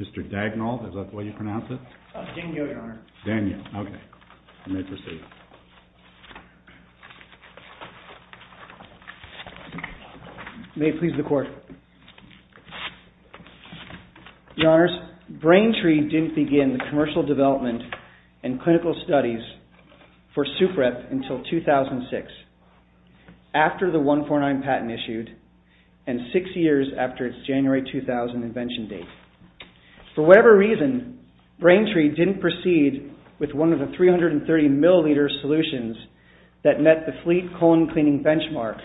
Mr. Dagnall, is that the way you pronounce it? Dagnall, Your Honor. Dagnall, okay. You may proceed. May it please the Court. Your Honors, Braintree didn't begin the commercial development and clinical studies of the brain tree for SupRep until 2006, after the 149 patent issued, and six years after its January 2000 invention date. For whatever reason, Braintree didn't proceed with one of the 330 milliliter solutions that met the fleet colon cleaning benchmark,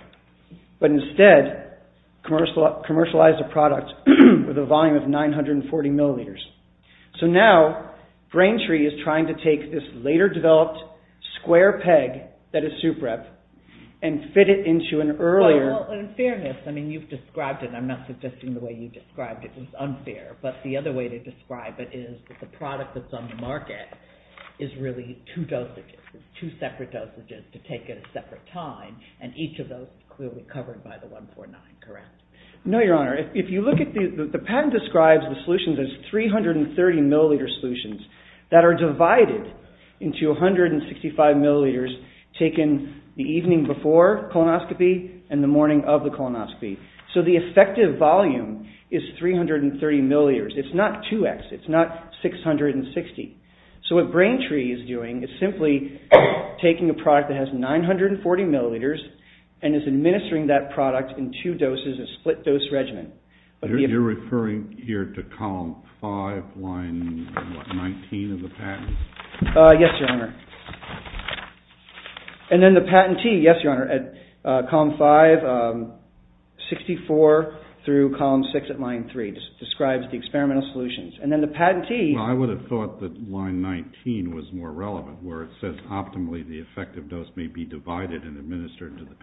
but instead commercialized a product with a volume of 940 milliliters. So now, Braintree is trying to take this later developed square peg that is SupRep and fit it into an earlier... Well, in fairness, I mean, you've described it. I'm not suggesting the way you described it was unfair, but the other way to describe it is that the product that's on the market is really two dosages, two separate dosages to take at a separate time, and each of those is clearly covered by the 149, correct? No, Your Honor. If you look at the... The patent describes the solutions as 330 milliliter solutions that are divided into 165 milliliters taken the evening before colonoscopy and the morning of the colonoscopy. So the effective volume is 330 milliliters. It's not 2x. It's not 660. So what Braintree is doing is simply taking a product that has 940 milliliters and is administering that product in two doses, a split dose regimen. You're referring here to column 5, line 19 of the patent? Yes, Your Honor. And then the patentee, yes, Your Honor, at column 5, 64 through column 6 at line 3 describes the experimental solutions. And then the patentee... Well, I would have thought that line 19 was more relevant where it says optimally the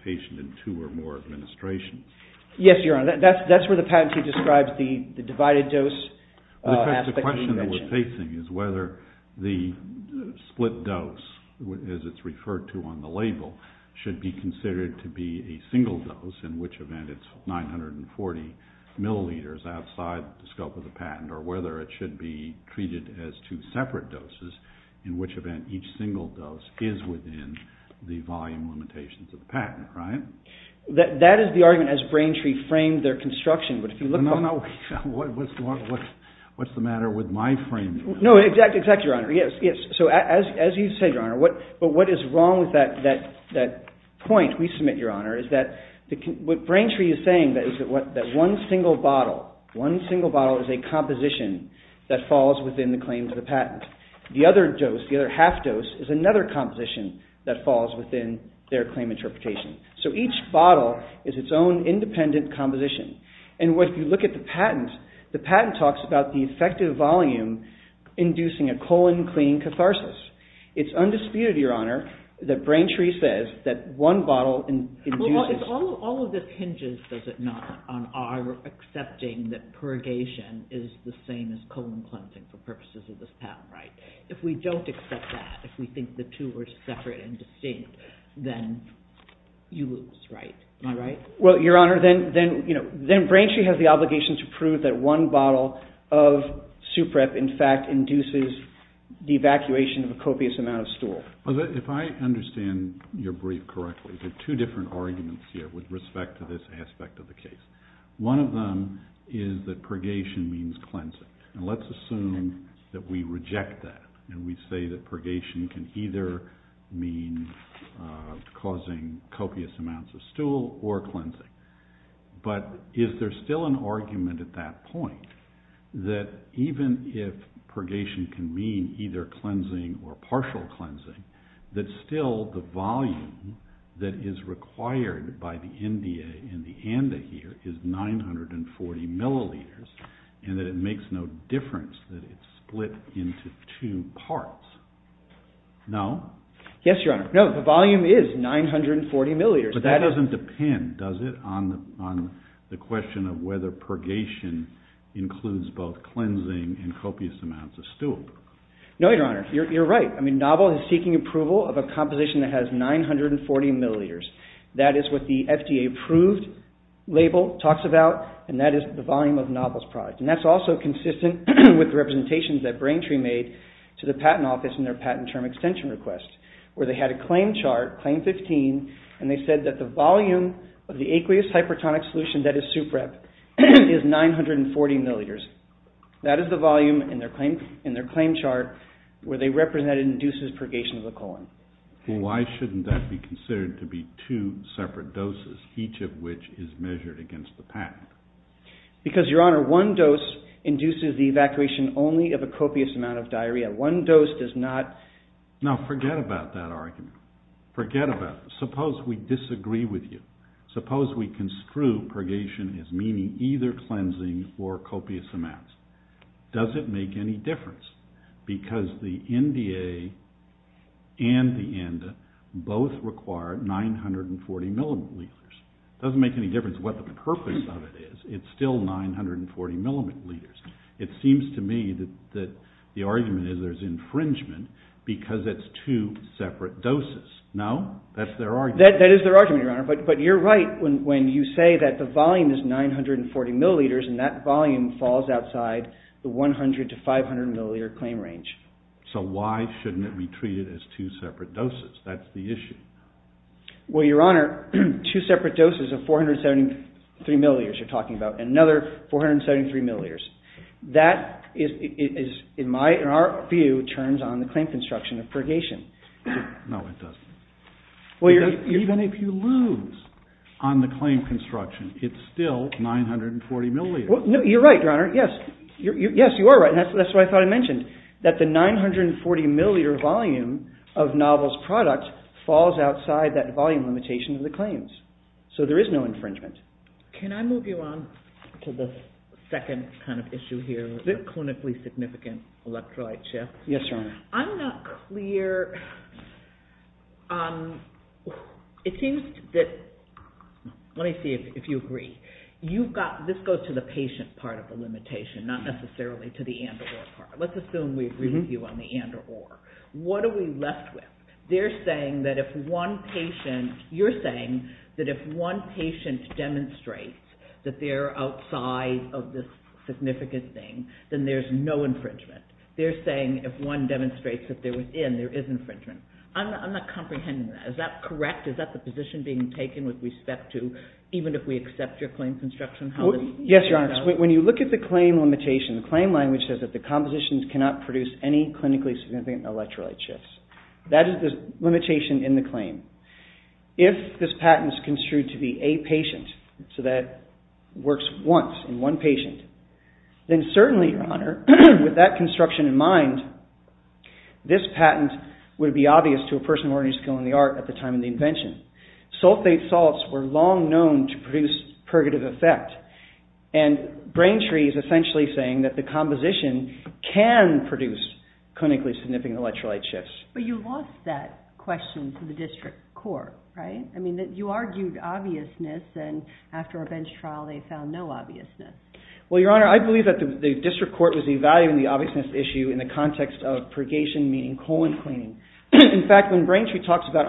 patient in two or more administrations. Yes, Your Honor. That's where the patentee describes the divided dose aspect that you mentioned. The question that we're facing is whether the split dose, as it's referred to on the label, should be considered to be a single dose, in which event it's 940 milliliters outside the scope of the patent, or whether it should be treated as two separate doses, in which event each single dose is within the volume limitations of the patent, right? That is the argument as Braintree framed their construction, but if you look... No, no, what's the matter with my framing? No, exactly, exactly, Your Honor. Yes, so as you said, Your Honor, but what is wrong with that point we submit, Your Honor, is that what Braintree is saying is that one single bottle, one single bottle is a composition that falls within the claims of the patent. The other dose, the other half dose, is another composition that falls within their claim interpretation. So each bottle is its own independent composition, and when you look at the patent, the patent talks about the effective volume inducing a colon clean catharsis. It's undisputed, Your Honor, that Braintree says that one bottle induces... Well, all of this hinges, does it not, on our accepting that purgation is the same as If we don't accept that, if we think the two are separate and distinct, then you lose, right? Am I right? Well, Your Honor, then Braintree has the obligation to prove that one bottle of Suprep, in fact, induces the evacuation of a copious amount of stool. If I understand your brief correctly, there are two different arguments here with respect to this aspect of the case. One of them is that purgation means cleansing, and let's assume that we reject that and we say that purgation can either mean causing copious amounts of stool or cleansing. But is there still an argument at that point that even if purgation can mean either cleansing or partial cleansing, that still the volume that is required by the NDA and the ANDA here is 940 milliliters and that it makes no difference that it's split into two parts? No? Yes, Your Honor. No, the volume is 940 milliliters. But that doesn't depend, does it, on the question of whether purgation includes both cleansing and copious amounts of stool? No, Your Honor. You're right. I mean, Novel is seeking approval of a composition that is 940 milliliters. That is what the FDA approved label talks about, and that is the volume of Novel's product. And that's also consistent with representations that Brain Tree made to the Patent Office in their patent term extension request, where they had a claim chart, claim 15, and they said that the volume of the aqueous hypertonic solution that is SupRep is 940 milliliters. That is the volume in their claim chart where they represented induces purgation of the colon. Well, why shouldn't that be considered to be two separate doses, each of which is measured against the patent? Because, Your Honor, one dose induces the evacuation only of a copious amount of diarrhea. One dose does not… No, forget about that argument. Forget about it. Suppose we disagree with you. Suppose we construe purgation as meaning either cleansing or copious amounts. Does it make any difference? Because the NDA and the ANDA both require 940 milliliters. It doesn't make any difference what the purpose of it is. It's still 940 milliliters. It seems to me that the argument is there's infringement because it's two separate doses. No? That's their argument. That is their argument, Your Honor, but you're right when you say that the volume is 940 milliliters and that volume falls outside the 100 to 500 milliliter claim range. So why shouldn't it be treated as two separate doses? That's the issue. Well, Your Honor, two separate doses of 473 milliliters you're talking about and another 473 milliliters. That is, in our view, turns on the claim construction of purgation. No, it doesn't. Even if you lose on the claim construction, it's still 940 milliliters. You're right, Your Honor. Yes, you are right. And that's why I thought I mentioned that the 940 milliliter volume of Novel's product falls outside that volume limitation of the claims. So there is no infringement. Can I move you on to the second kind of issue here, the clinically significant electrolyte issue? Yes, Your Honor. I'm not clear. It seems that, let me see if you agree. You've got, this goes to the patient part of the limitation, not necessarily to the and or part. Let's assume we agree with you on the and or. What are we left with? They're saying that if one patient, you're saying that if one patient demonstrates that they're outside of this significant thing, then there's no infringement. They're saying if one demonstrates that they're within, there is infringement. I'm not comprehending that. Is that correct? Is that the position being taken with respect to even if we accept your claim construction? Yes, Your Honor. When you look at the claim limitation, the claim language says that the compositions cannot produce any clinically significant electrolyte shifts. That is the limitation in the claim. If this patent is construed to be a patient, so that works once in one patient, then certainly, Your Honor, with that construction in mind, this patent would be obvious to a person who already has a skill in the art at the time of the invention. Sulfate salts were long known to produce purgative effect. Braintree is essentially saying that the composition can produce clinically significant electrolyte shifts. But you lost that question to the district court, right? I mean, you argued obviousness and after a bench trial, they found no obviousness. Well, Your Honor, I believe that the district court was evaluating the obviousness issue in the context of purgation, meaning colon cleaning. In fact, when Braintree talks about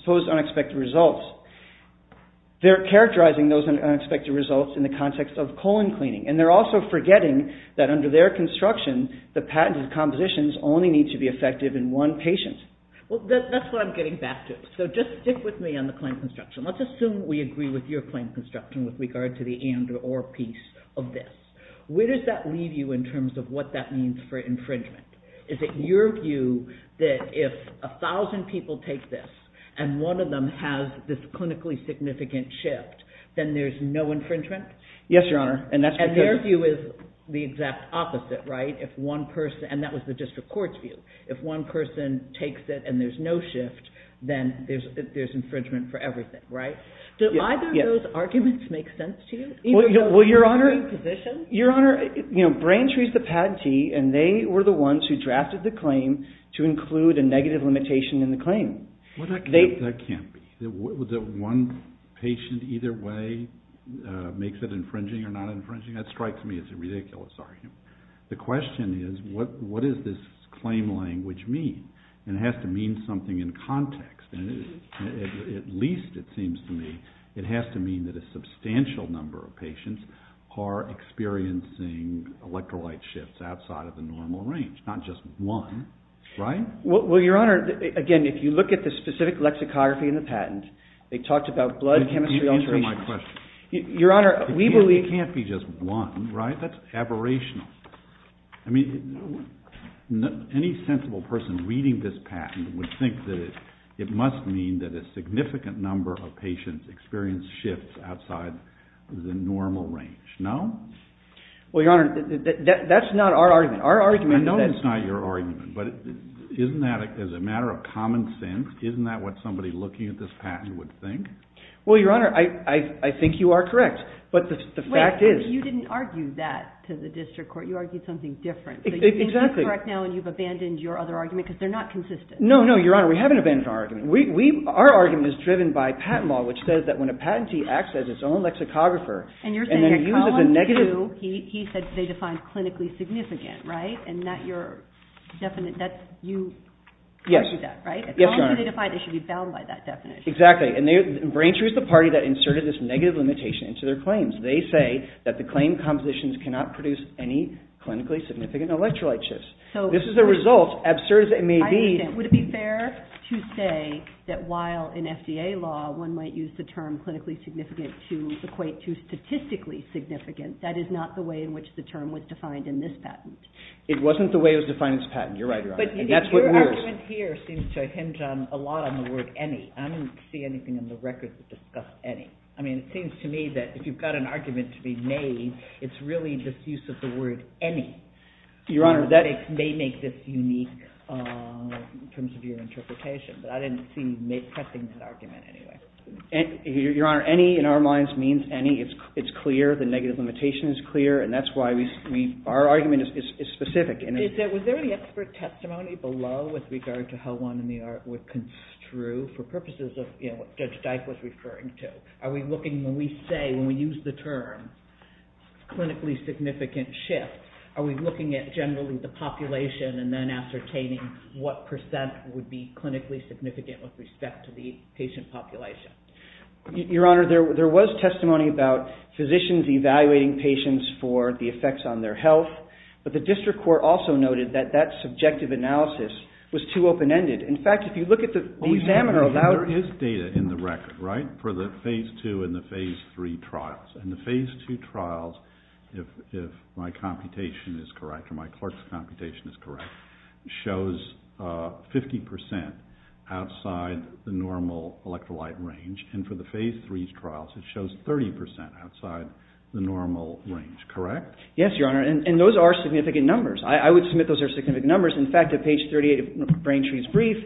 supposed unexpected results, they're characterizing those unexpected results in the context of colon cleaning. And they're also forgetting that under their construction, the patented compositions only need to be effective in one patient. Well, that's what I'm getting back to. So just stick with me on the claim construction. Let's assume we agree with your claim construction with regard to the and or piece of this. Where does that leave you in terms of what that means for infringement? Is it your view that if 1,000 people take this and one of them has this clinically significant shift, then there's no infringement? Yes, Your Honor. And that's because— And their view is the exact opposite, right? If one person—and that was the district court's view. If one person takes it and there's no shift, then there's infringement for everything, right? Do either of those arguments make sense to you? Well, Your Honor, Braintree's the patentee, and they were the ones who drafted the claim to include a negative limitation in the claim. Well, that can't be. That one patient either way makes it infringing or not infringing, that strikes me as a ridiculous argument. The question is, what does this claim language mean? And it has to mean something in context. At least, it seems to me, it has to mean that a substantial number of patients are experiencing electrolyte shifts outside of the normal range, not just one, right? Well, Your Honor, again, if you look at the specific lexicography in the patent, they talked about blood chemistry alterations— Answer my question. Your Honor, we believe— Well, it can't be just one, right? That's aberrational. I mean, any sensible person reading this patent would think that it must mean that a significant number of patients experience shifts outside the normal range, no? Well, Your Honor, that's not our argument. Our argument is that— I know it's not your argument, but isn't that, as a matter of common sense, isn't that what somebody looking at this patent would think? Well, Your Honor, I think you are correct. But the fact is— Wait. You didn't argue that to the district court. You argued something different. Exactly. So you think that's correct now, and you've abandoned your other argument because they're not consistent. No, no, Your Honor. We haven't abandoned our argument. Our argument is driven by patent law, which says that when a patentee acts as its own lexicographer— And you're saying that Collins, too, he said they define clinically significant, right? And that you're definite—that you argue that, right? Yes. Yes, Your Honor. At Collins, too, they define they should be bound by that definition. Exactly. And Braintree is the party that inserted this negative limitation into their claims. They say that the claim compositions cannot produce any clinically significant electrolyte shifts. This is a result, absurd as it may be— I understand. Would it be fair to say that while in FDA law one might use the term clinically significant to equate to statistically significant, that is not the way in which the term was defined in this patent? It wasn't the way it was defined in this patent. You're right, Your Honor. And that's what we're— I don't see anything in the records that discuss any. I mean, it seems to me that if you've got an argument to be made, it's really just use of the word any. Your Honor, that— That may make this unique in terms of your interpretation. But I didn't see you pressing that argument anyway. Your Honor, any in our minds means any. It's clear. The negative limitation is clear. And that's why we—our argument is specific. Was there any expert testimony below with regard to how one in the art would construe for purposes of, you know, what Judge Dike was referring to? Are we looking—when we say, when we use the term clinically significant shift, are we looking at generally the population and then ascertaining what percent would be clinically significant with respect to the patient population? Your Honor, there was testimony about physicians evaluating patients for the effects on their health. But the district court also noted that that subjective analysis was too open-ended. In fact, if you look at the examiner— There is data in the record, right, for the Phase II and the Phase III trials. And the Phase II trials, if my computation is correct or my clerk's computation is correct, shows 50 percent outside the normal electrolyte range. And for the Phase III trials, it shows 30 percent outside the normal range, correct? Yes, Your Honor. And those are significant numbers. I would submit those are significant numbers. In his brief,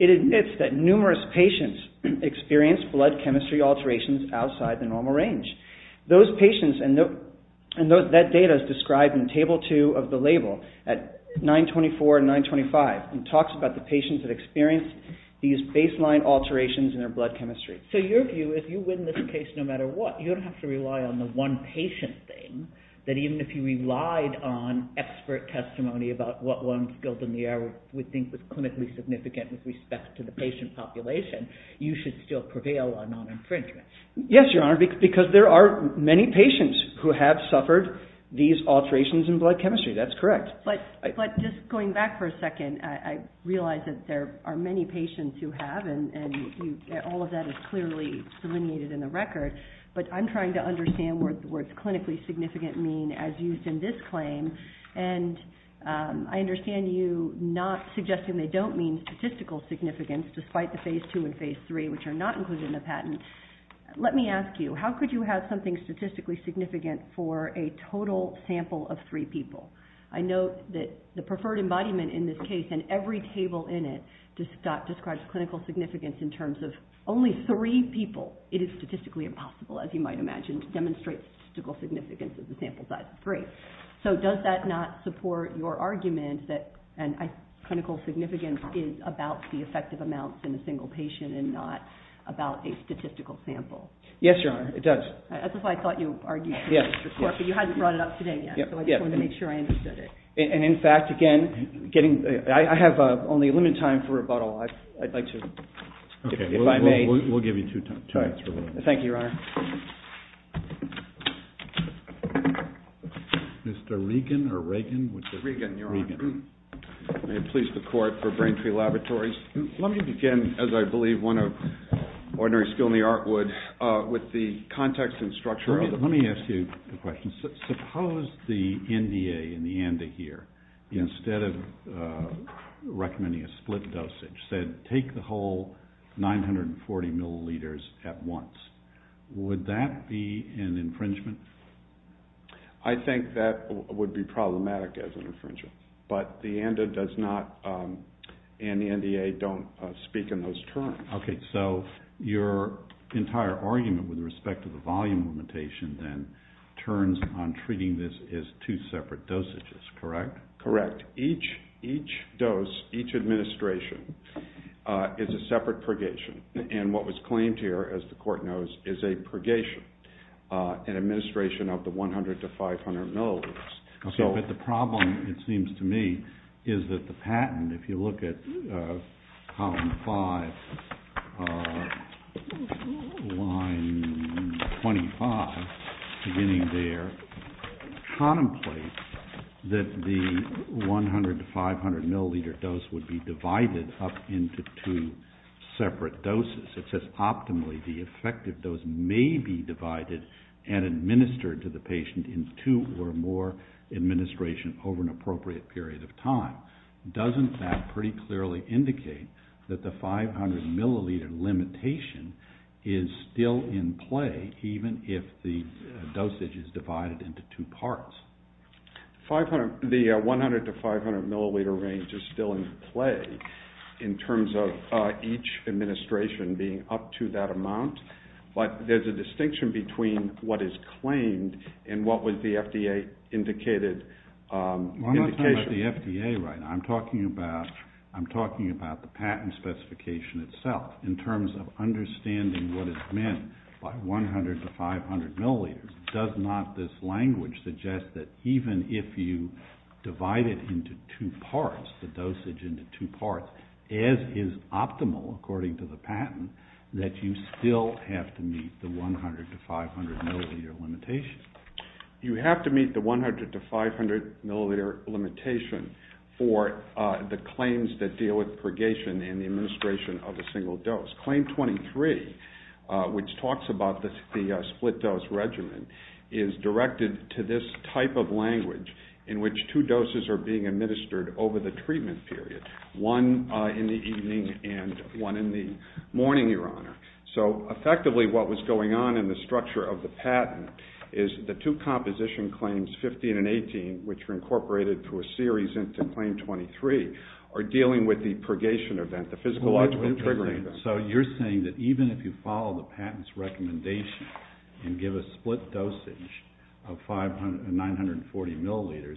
it admits that numerous patients experienced blood chemistry alterations outside the normal range. Those patients—and that data is described in Table II of the label at 924 and 925. It talks about the patients that experienced these baseline alterations in their blood chemistry. So your view, if you win this case no matter what, you don't have to rely on the one patient thing, that even if you relied on expert testimony about what one skilled in the art would think was clinically significant with respect to the patient population, you should still prevail on non-infringement. Yes, Your Honor, because there are many patients who have suffered these alterations in blood chemistry. That's correct. But just going back for a second, I realize that there are many patients who have, and all of that is clearly delineated in the record. But I'm trying to understand what the words statistical significance, despite the Phase II and Phase III, which are not included in the patent. Let me ask you, how could you have something statistically significant for a total sample of three people? I note that the preferred embodiment in this case, and every table in it, describes clinical significance in terms of only three people. It is statistically impossible, as you might imagine, to demonstrate statistical significance of the sample size of three. So does that not support your argument that clinical significance is about the effective amounts in a single patient and not about a statistical sample? Yes, Your Honor, it does. That's why I thought you argued for this report, but you haven't brought it up today yet, so I just wanted to make sure I understood it. And in fact, again, I have only a limited time for rebuttal. I'd like to, if I may. Okay, we'll give you two minutes for rebuttal. Thank you, Your Honor. Mr. Regan, or Reagan? Regan, Your Honor. Regan. May it please the Court for Braintree Laboratories. Let me begin, as I believe one of ordinary skill in the art would, with the context and structure of it. Let me ask you a question. Suppose the NDA in the ANDA here, instead of recommending a split dosage, said take the whole 940 milliliters at once. Would that be an infringement? I think that would be problematic as an infringement. But the ANDA does not, and the NDA don't speak in those terms. Okay, so your entire argument with respect to the volume limitation then turns on treating this as two separate dosages, correct? Correct. Each dose, each administration, is a separate purgation. And what was claimed here, as the Court knows, is a purgation, an administration of the 100 to 500 milliliters. Okay, but the problem, it seems to me, is that the patent, if you look at column 5, line 25, beginning there, contemplates that the 100 to 500 milliliter dose would be divided up into two separate doses. It says optimally the effective dose may be divided and administered to the patient in two or more administrations over an appropriate period of time. Doesn't that pretty clearly indicate that the 500 milliliter limitation is still in play, even if the dosage is divided into two parts? The 100 to 500 milliliter range is still in play in terms of each administration being up to that amount, but there's a distinction between what is claimed and what was the FDA indicated. Well, I'm not talking about the FDA right now. I'm talking about the patent specification itself in terms of understanding what is meant by 100 to 500 milliliters. Does not this language suggest that even if you divide it into two parts, the dosage into two parts, as is optimal according to the patent, that you still have to meet the 100 to 500 milliliter limitation? You have to meet the 100 to 500 milliliter limitation for the claims that deal with purgation and the administration of a single dose. Claim 23, which talks about the split dose regimen, is directed to this type of language in which two doses are being administered over the treatment period, one in the evening and one in the morning, Your Honor. So effectively what was going on in the structure of the patent is the two composition claims, 15 and 18, which were incorporated through a series into claim 23, are dealing with the purgation event, the physiological triggering event. And so you're saying that even if you follow the patent's recommendation and give a split dosage of 940 milliliters,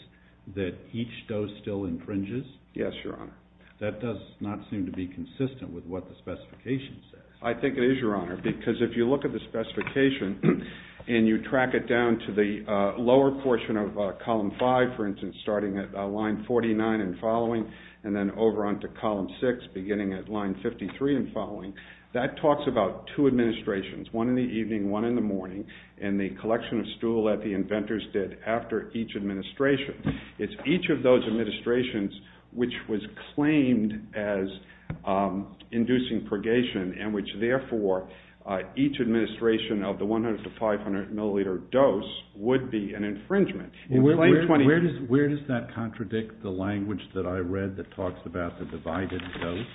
that each dose still infringes? Yes, Your Honor. That does not seem to be consistent with what the specification says. I think it is, Your Honor, because if you look at the specification and you track it down to the lower portion of column 5, for instance, starting at line 49 and following and then over onto column 6, beginning at line 53 and following, that talks about two administrations, one in the evening, one in the morning, and the collection of stool that the inventors did after each administration. It's each of those administrations which was claimed as inducing purgation and which therefore each administration of the 100 to 500 milliliter dose would be an infringement. Where does that contradict the language that I read that talks about the divided dose?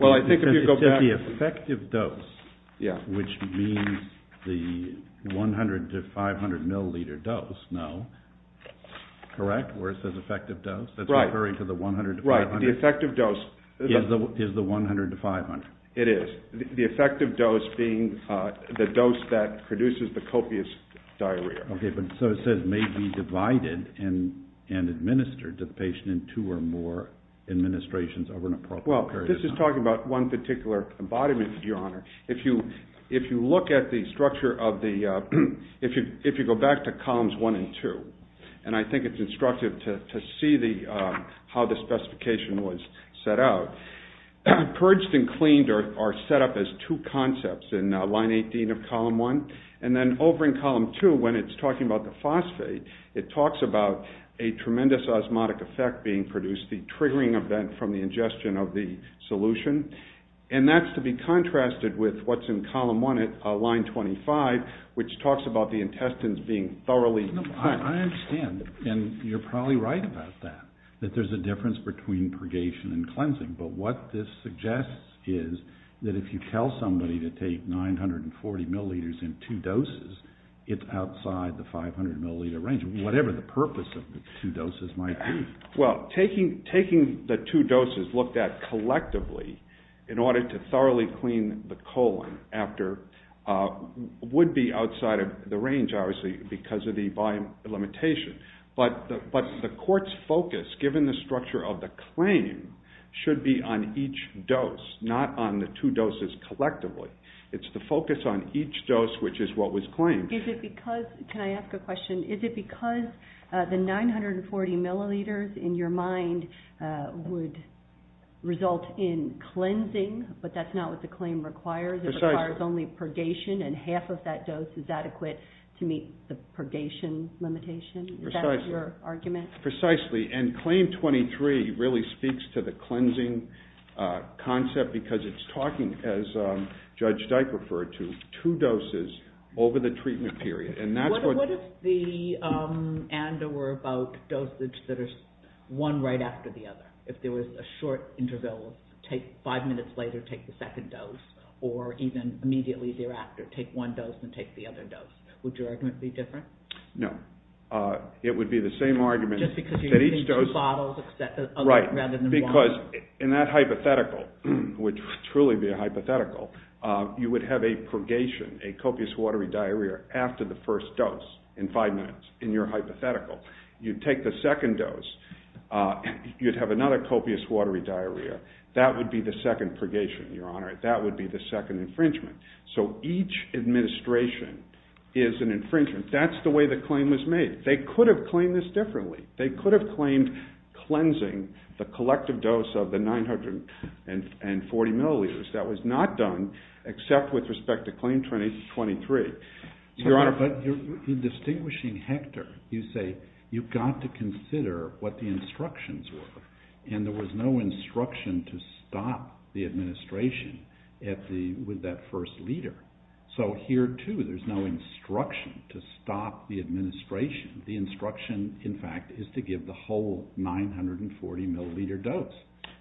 Well, I think if you go back... It says the effective dose, which means the 100 to 500 milliliter dose, no? Correct? Where it says effective dose? Right. That's referring to the 100 to 500? Right. The effective dose... Is the 100 to 500? It is. The effective dose being the dose that produces the copious diarrhea. Okay, but so it says may be divided and administered to the patient in two or more administrations over an appropriate period of time. Well, this is talking about one particular embodiment, Your Honor. If you look at the structure of the... If you go back to columns 1 and 2, and I think it's instructive to see how the specification was set out, purged and cleaned are set up as two concepts in line 18 of column 1, and then over in column 2 when it's talking about the phosphate, it talks about a tremendous osmotic effect being produced, the triggering event from the ingestion of the solution, and that's to be contrasted with what's in column 1 at line 25, which talks about the intestines being thoroughly... I understand, and you're probably right about that, that there's a difference between purgation and cleansing, but what this suggests is that if you tell somebody to take 940 milliliters in two doses, it's outside the 500 milliliter range, whatever the purpose of the two doses might be. Well, taking the two doses looked at collectively in order to thoroughly clean the colon would be outside of the range, obviously, because of the volume limitation, but the court's focus, given the structure of the claim, should be on each dose, not on the two doses collectively. It's the focus on each dose, which is what was claimed. Is it because... Can I ask a question? Is it because the 940 milliliters in your mind would result in cleansing, but that's not what the claim requires? Precisely. It requires only purgation and half of that dose is adequate to meet the purgation limitation? Precisely. Is that your argument? Precisely. And claim 23 really speaks to the cleansing concept because it's talking, as Judge Dyke referred to, two doses over the treatment period, and that's what... What if the ANDA were about dosage that is one right after the other? If there was a short interval, take five minutes later, take the second dose, or even immediately thereafter, take one dose and take the other dose. Would your argument be different? No. It would be the same argument that each dose... Just because you're taking two bottles rather than one. Right, because in that hypothetical, which would truly be a hypothetical, you would have a purgation, a copious watery diarrhea after the first dose in five minutes in your hypothetical. You'd take the second dose, you'd have another copious watery diarrhea. That would be the second purgation, Your Honor. That would be the second infringement. So each administration is an infringement. That's the way the claim was made. They could have claimed this differently. They could have claimed cleansing the collective dose of the 940 milliliters. That was not done except with respect to claim 23. Your Honor... But you're distinguishing Hector. You say you've got to consider what the instructions were, and there was no instruction to stop the administration with that first liter. So here, too, there's no instruction to stop the administration. The instruction, in fact, is to give the whole 940 milliliter dose.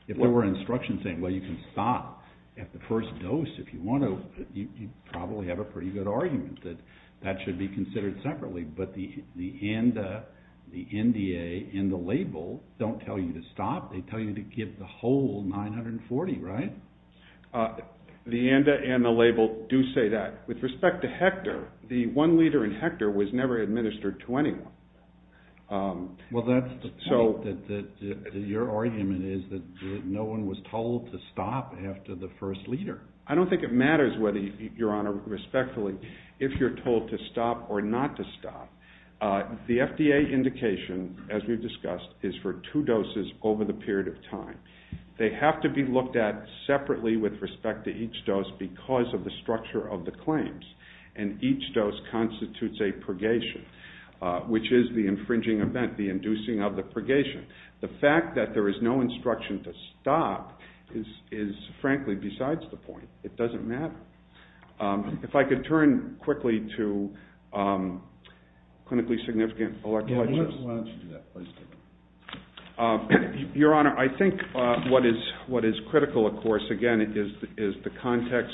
If there were instructions saying, well, you can stop at the first dose if you want to, you'd probably have a pretty good argument that that should be considered separately. But the ANDA, the NDA, and the label don't tell you to stop. They tell you to give the whole 940, right? The ANDA and the label do say that. With respect to Hector, the one liter in Hector was never administered to anyone. Well, that's the point, that your argument is that no one was told to stop after the first liter. I don't think it matters whether, Your Honor, respectfully, if you're told to stop or not to stop. The FDA indication, as we've discussed, is for two doses over the period of time. They have to be looked at separately with respect to each dose because of the structure of the claims. And each dose constitutes a purgation, which is the infringing event, the inducing of the purgation. The fact that there is no instruction to stop is, frankly, besides the point. It doesn't matter. If I could turn quickly to clinically significant electrolysis. Why don't you do that? Please do that. Your Honor, I think what is critical, of course, again, is the context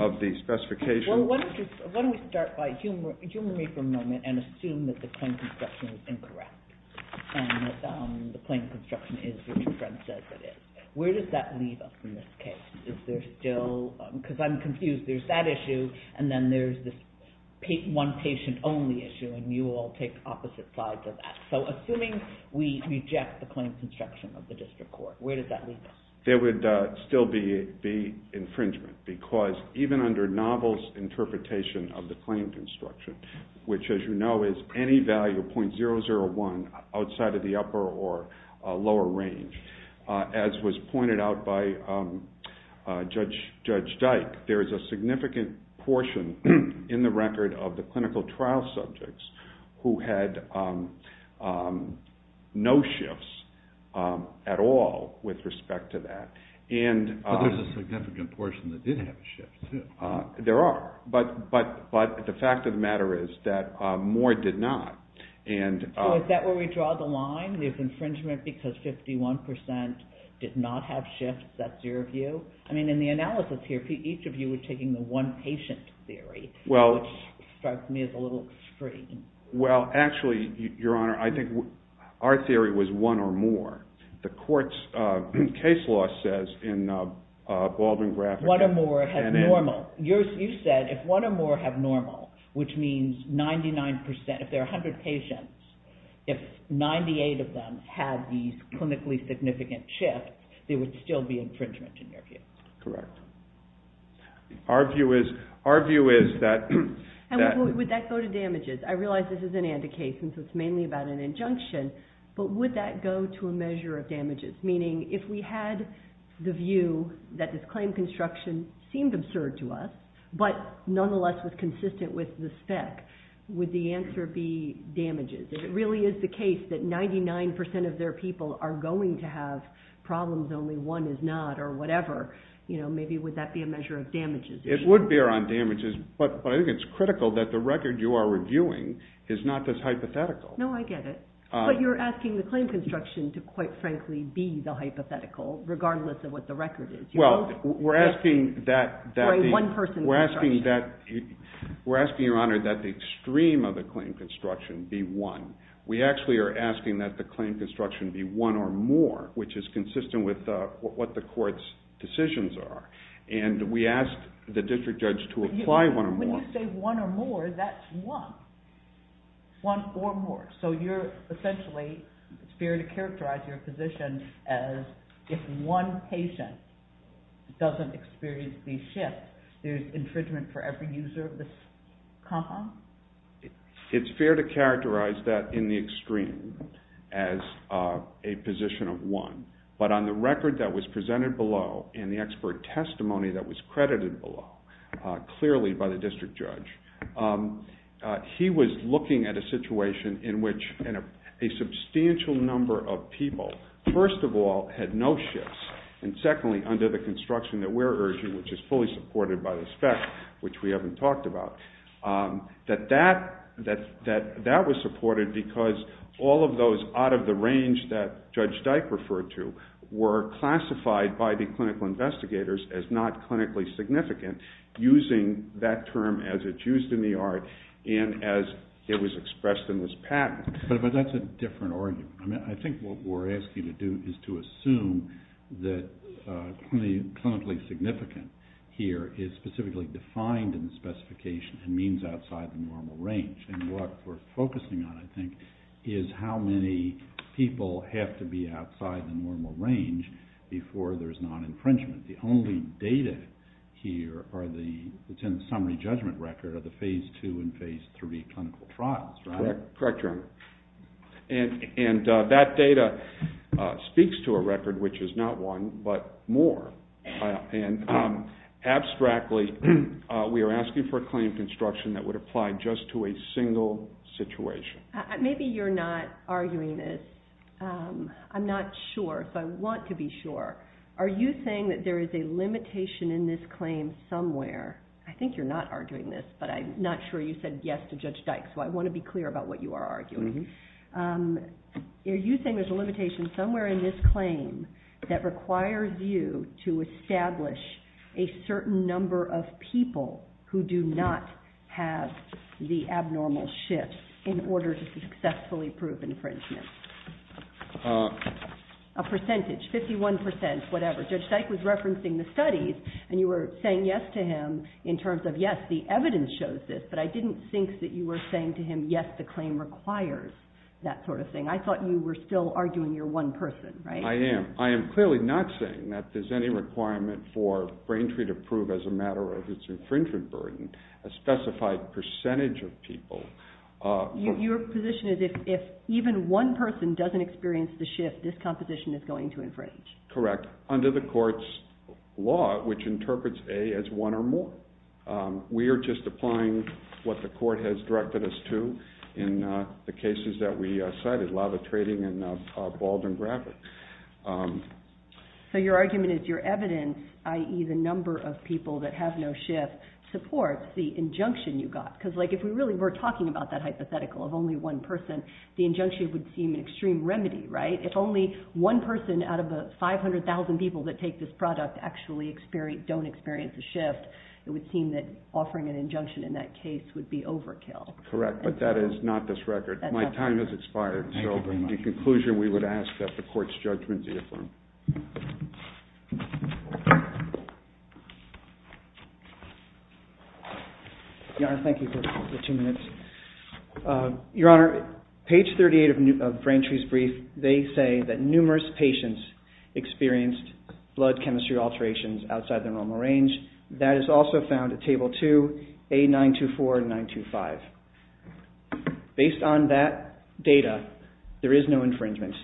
of the specification. Why don't we start by humoring for a moment and assume that the claim construction is incorrect and the claim construction is what your friend says it is. Where does that leave us in this case? Because I'm confused. There's that issue, and then there's this one patient only issue, and you all take opposite sides of that. So assuming we reject the claim construction of the district court, where does that leave us? There would still be infringement because even under Novel's interpretation of the claim construction, which, as you know, is any value 0.001 outside of the upper or lower range, as was pointed out by Judge Dyke, there is a significant portion in the record of the clinical trial subjects who had no shifts at all with respect to that. But there's a significant portion that did have a shift, too. There are, but the fact of the matter is that Moore did not. So is that where we draw the line? There's infringement because 51 percent did not have shifts? That's your view? I mean, in the analysis here, each of you were taking the one patient theory, which strikes me as a little extreme. Well, actually, Your Honor, I think our theory was one or more. The court's case law says in Baldwin-Grafick… One or more have normal. You said if one or more have normal, which means 99 percent, if there are 100 patients, if 98 of them had these clinically significant shifts, there would still be infringement, in your view. Correct. Our view is that… And would that go to damages? I realize this is an ANDA case, and so it's mainly about an injunction, but would that go to a measure of damages? Meaning, if we had the view that this claim construction seemed absurd to us, but nonetheless was consistent with the spec, would the answer be damages? If it really is the case that 99 percent of their people are going to have problems, only one is not, or whatever, maybe would that be a measure of damages? It would bear on damages, but I think it's critical that the record you are reviewing is not this hypothetical. No, I get it. But you're asking the claim construction to, quite frankly, be the hypothetical, regardless of what the record is. Well, we're asking that the extreme of the claim construction be one. We actually are asking that the claim construction be one or more, which is consistent with what the court's decisions are. And we ask the district judge to apply one or more. When you say one or more, that's one. One or more. So you're essentially, it's fair to characterize your position as if one patient doesn't experience these shifts, there's infringement for every user of this compound? It's fair to characterize that in the extreme as a position of one, but on the record that was presented below and the expert testimony that was credited below, clearly by the district judge, he was looking at a situation in which a substantial number of people, first of all, had no shifts, and secondly, under the construction that we're urging, which is fully supported by the spec, which we haven't talked about, that that was supported because all of those out of the range that Judge Dyke referred to were classified by the clinical investigators as not clinically significant, using that term as it's used in the art and as it was expressed in this patent. But that's a different argument. I think what we're asking you to do is to assume that clinically significant here is specifically defined in the specification and means outside the normal range. And what we're focusing on, I think, is how many people have to be outside the normal range before there's non-infringement. The only data here that's in the summary judgment record are the Phase II and Phase III clinical trials, right? Correct, Your Honor. And that data speaks to a record which is not one, but more. And abstractly, we are asking for a claim of construction that would apply just to a single situation. Maybe you're not arguing this. I'm not sure. If I want to be sure, are you saying that there is a limitation in this claim somewhere? I think you're not arguing this, but I'm not sure you said yes to Judge Dyke, so I want to be clear about what you are arguing. Are you saying there's a limitation somewhere in this claim that requires you to establish a certain number of people who do not have the abnormal shift in order to successfully prove infringement? A percentage, 51%, whatever. Judge Dyke was referencing the studies, and you were saying yes to him in terms of, yes, the evidence shows this. But I didn't think that you were saying to him, yes, the claim requires that sort of thing. I thought you were still arguing you're one person, right? I am. I am clearly not saying that there's any requirement for Braintree to prove as a matter of its infringement burden a specified percentage of people. Your position is if even one person doesn't experience the shift, this composition is going to infringe. Correct. Under the court's law, which interprets A as one or more, we are just applying what the court has directed us to in the cases that we cited, Lava Trading and Bald and Grabber. So your argument is your evidence, i.e. the number of people that have no shift, supports the injunction you got. Because if we really were talking about that hypothetical of only one person, the injunction would seem an extreme remedy, right? If only one person out of the 500,000 people that take this product actually don't experience a shift, it would seem that offering an injunction in that case would be overkill. Correct, but that is not this record. My time has expired. So in conclusion, we would ask that the court's judgment be affirmed. Your Honor, thank you for two minutes. Your Honor, page 38 of Braintree's brief, they say that numerous patients experienced blood chemistry alterations outside their normal range. That is also found at Table 2, A924 and 925. Based on that data, there is no infringement.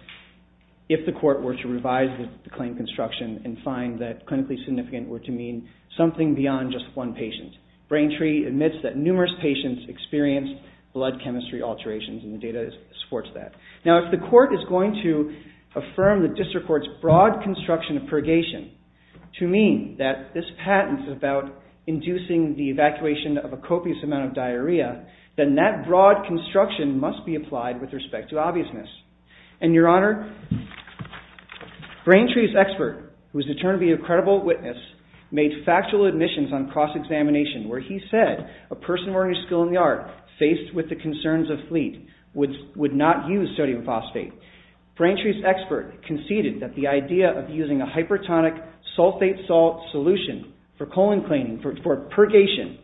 If the court were to revise the claim construction and find that clinically significant were to mean something beyond just one patient, Braintree admits that numerous patients experienced blood chemistry alterations, and the data supports that. Now, if the court is going to affirm the district court's broad construction of purgation to mean that this patent is about inducing the evacuation of a copious amount of diarrhea, then that broad construction must be applied with respect to obviousness. And, Your Honor, Braintree's expert, who is determined to be a credible witness, made factual admissions on cross-examination where he said a person of ordinary skill in the art, faced with the concerns of fleet, would not use sodium phosphate. Braintree's expert conceded that the idea of using a hypertonic sulfate salt solution for colon cleaning, for purgation,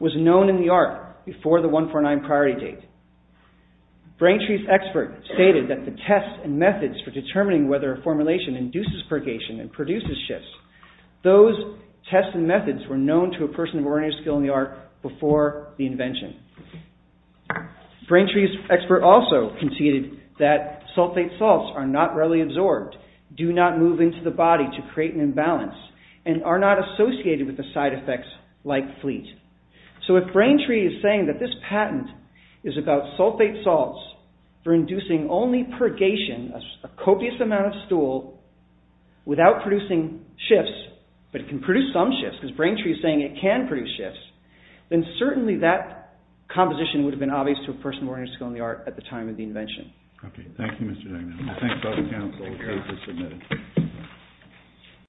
was known in the art before the 149 priority date. Braintree's expert stated that the tests and methods for determining whether a formulation induces purgation and produces shifts, those tests and methods were known to a person of ordinary skill in the art before the invention. Braintree's expert also conceded that sulfate salts are not readily absorbed, do not move into the body to create an imbalance, and are not associated with the side effects like fleet. So, if Braintree is saying that this patent is about sulfate salts for inducing only purgation, a copious amount of stool, without producing shifts, but it can produce some shifts, because Braintree is saying it can produce shifts, then certainly that composition would have been obvious to a person of ordinary skill in the art at the time of the invention. Thank you, Mr. Dagnon. Thank you for submitting.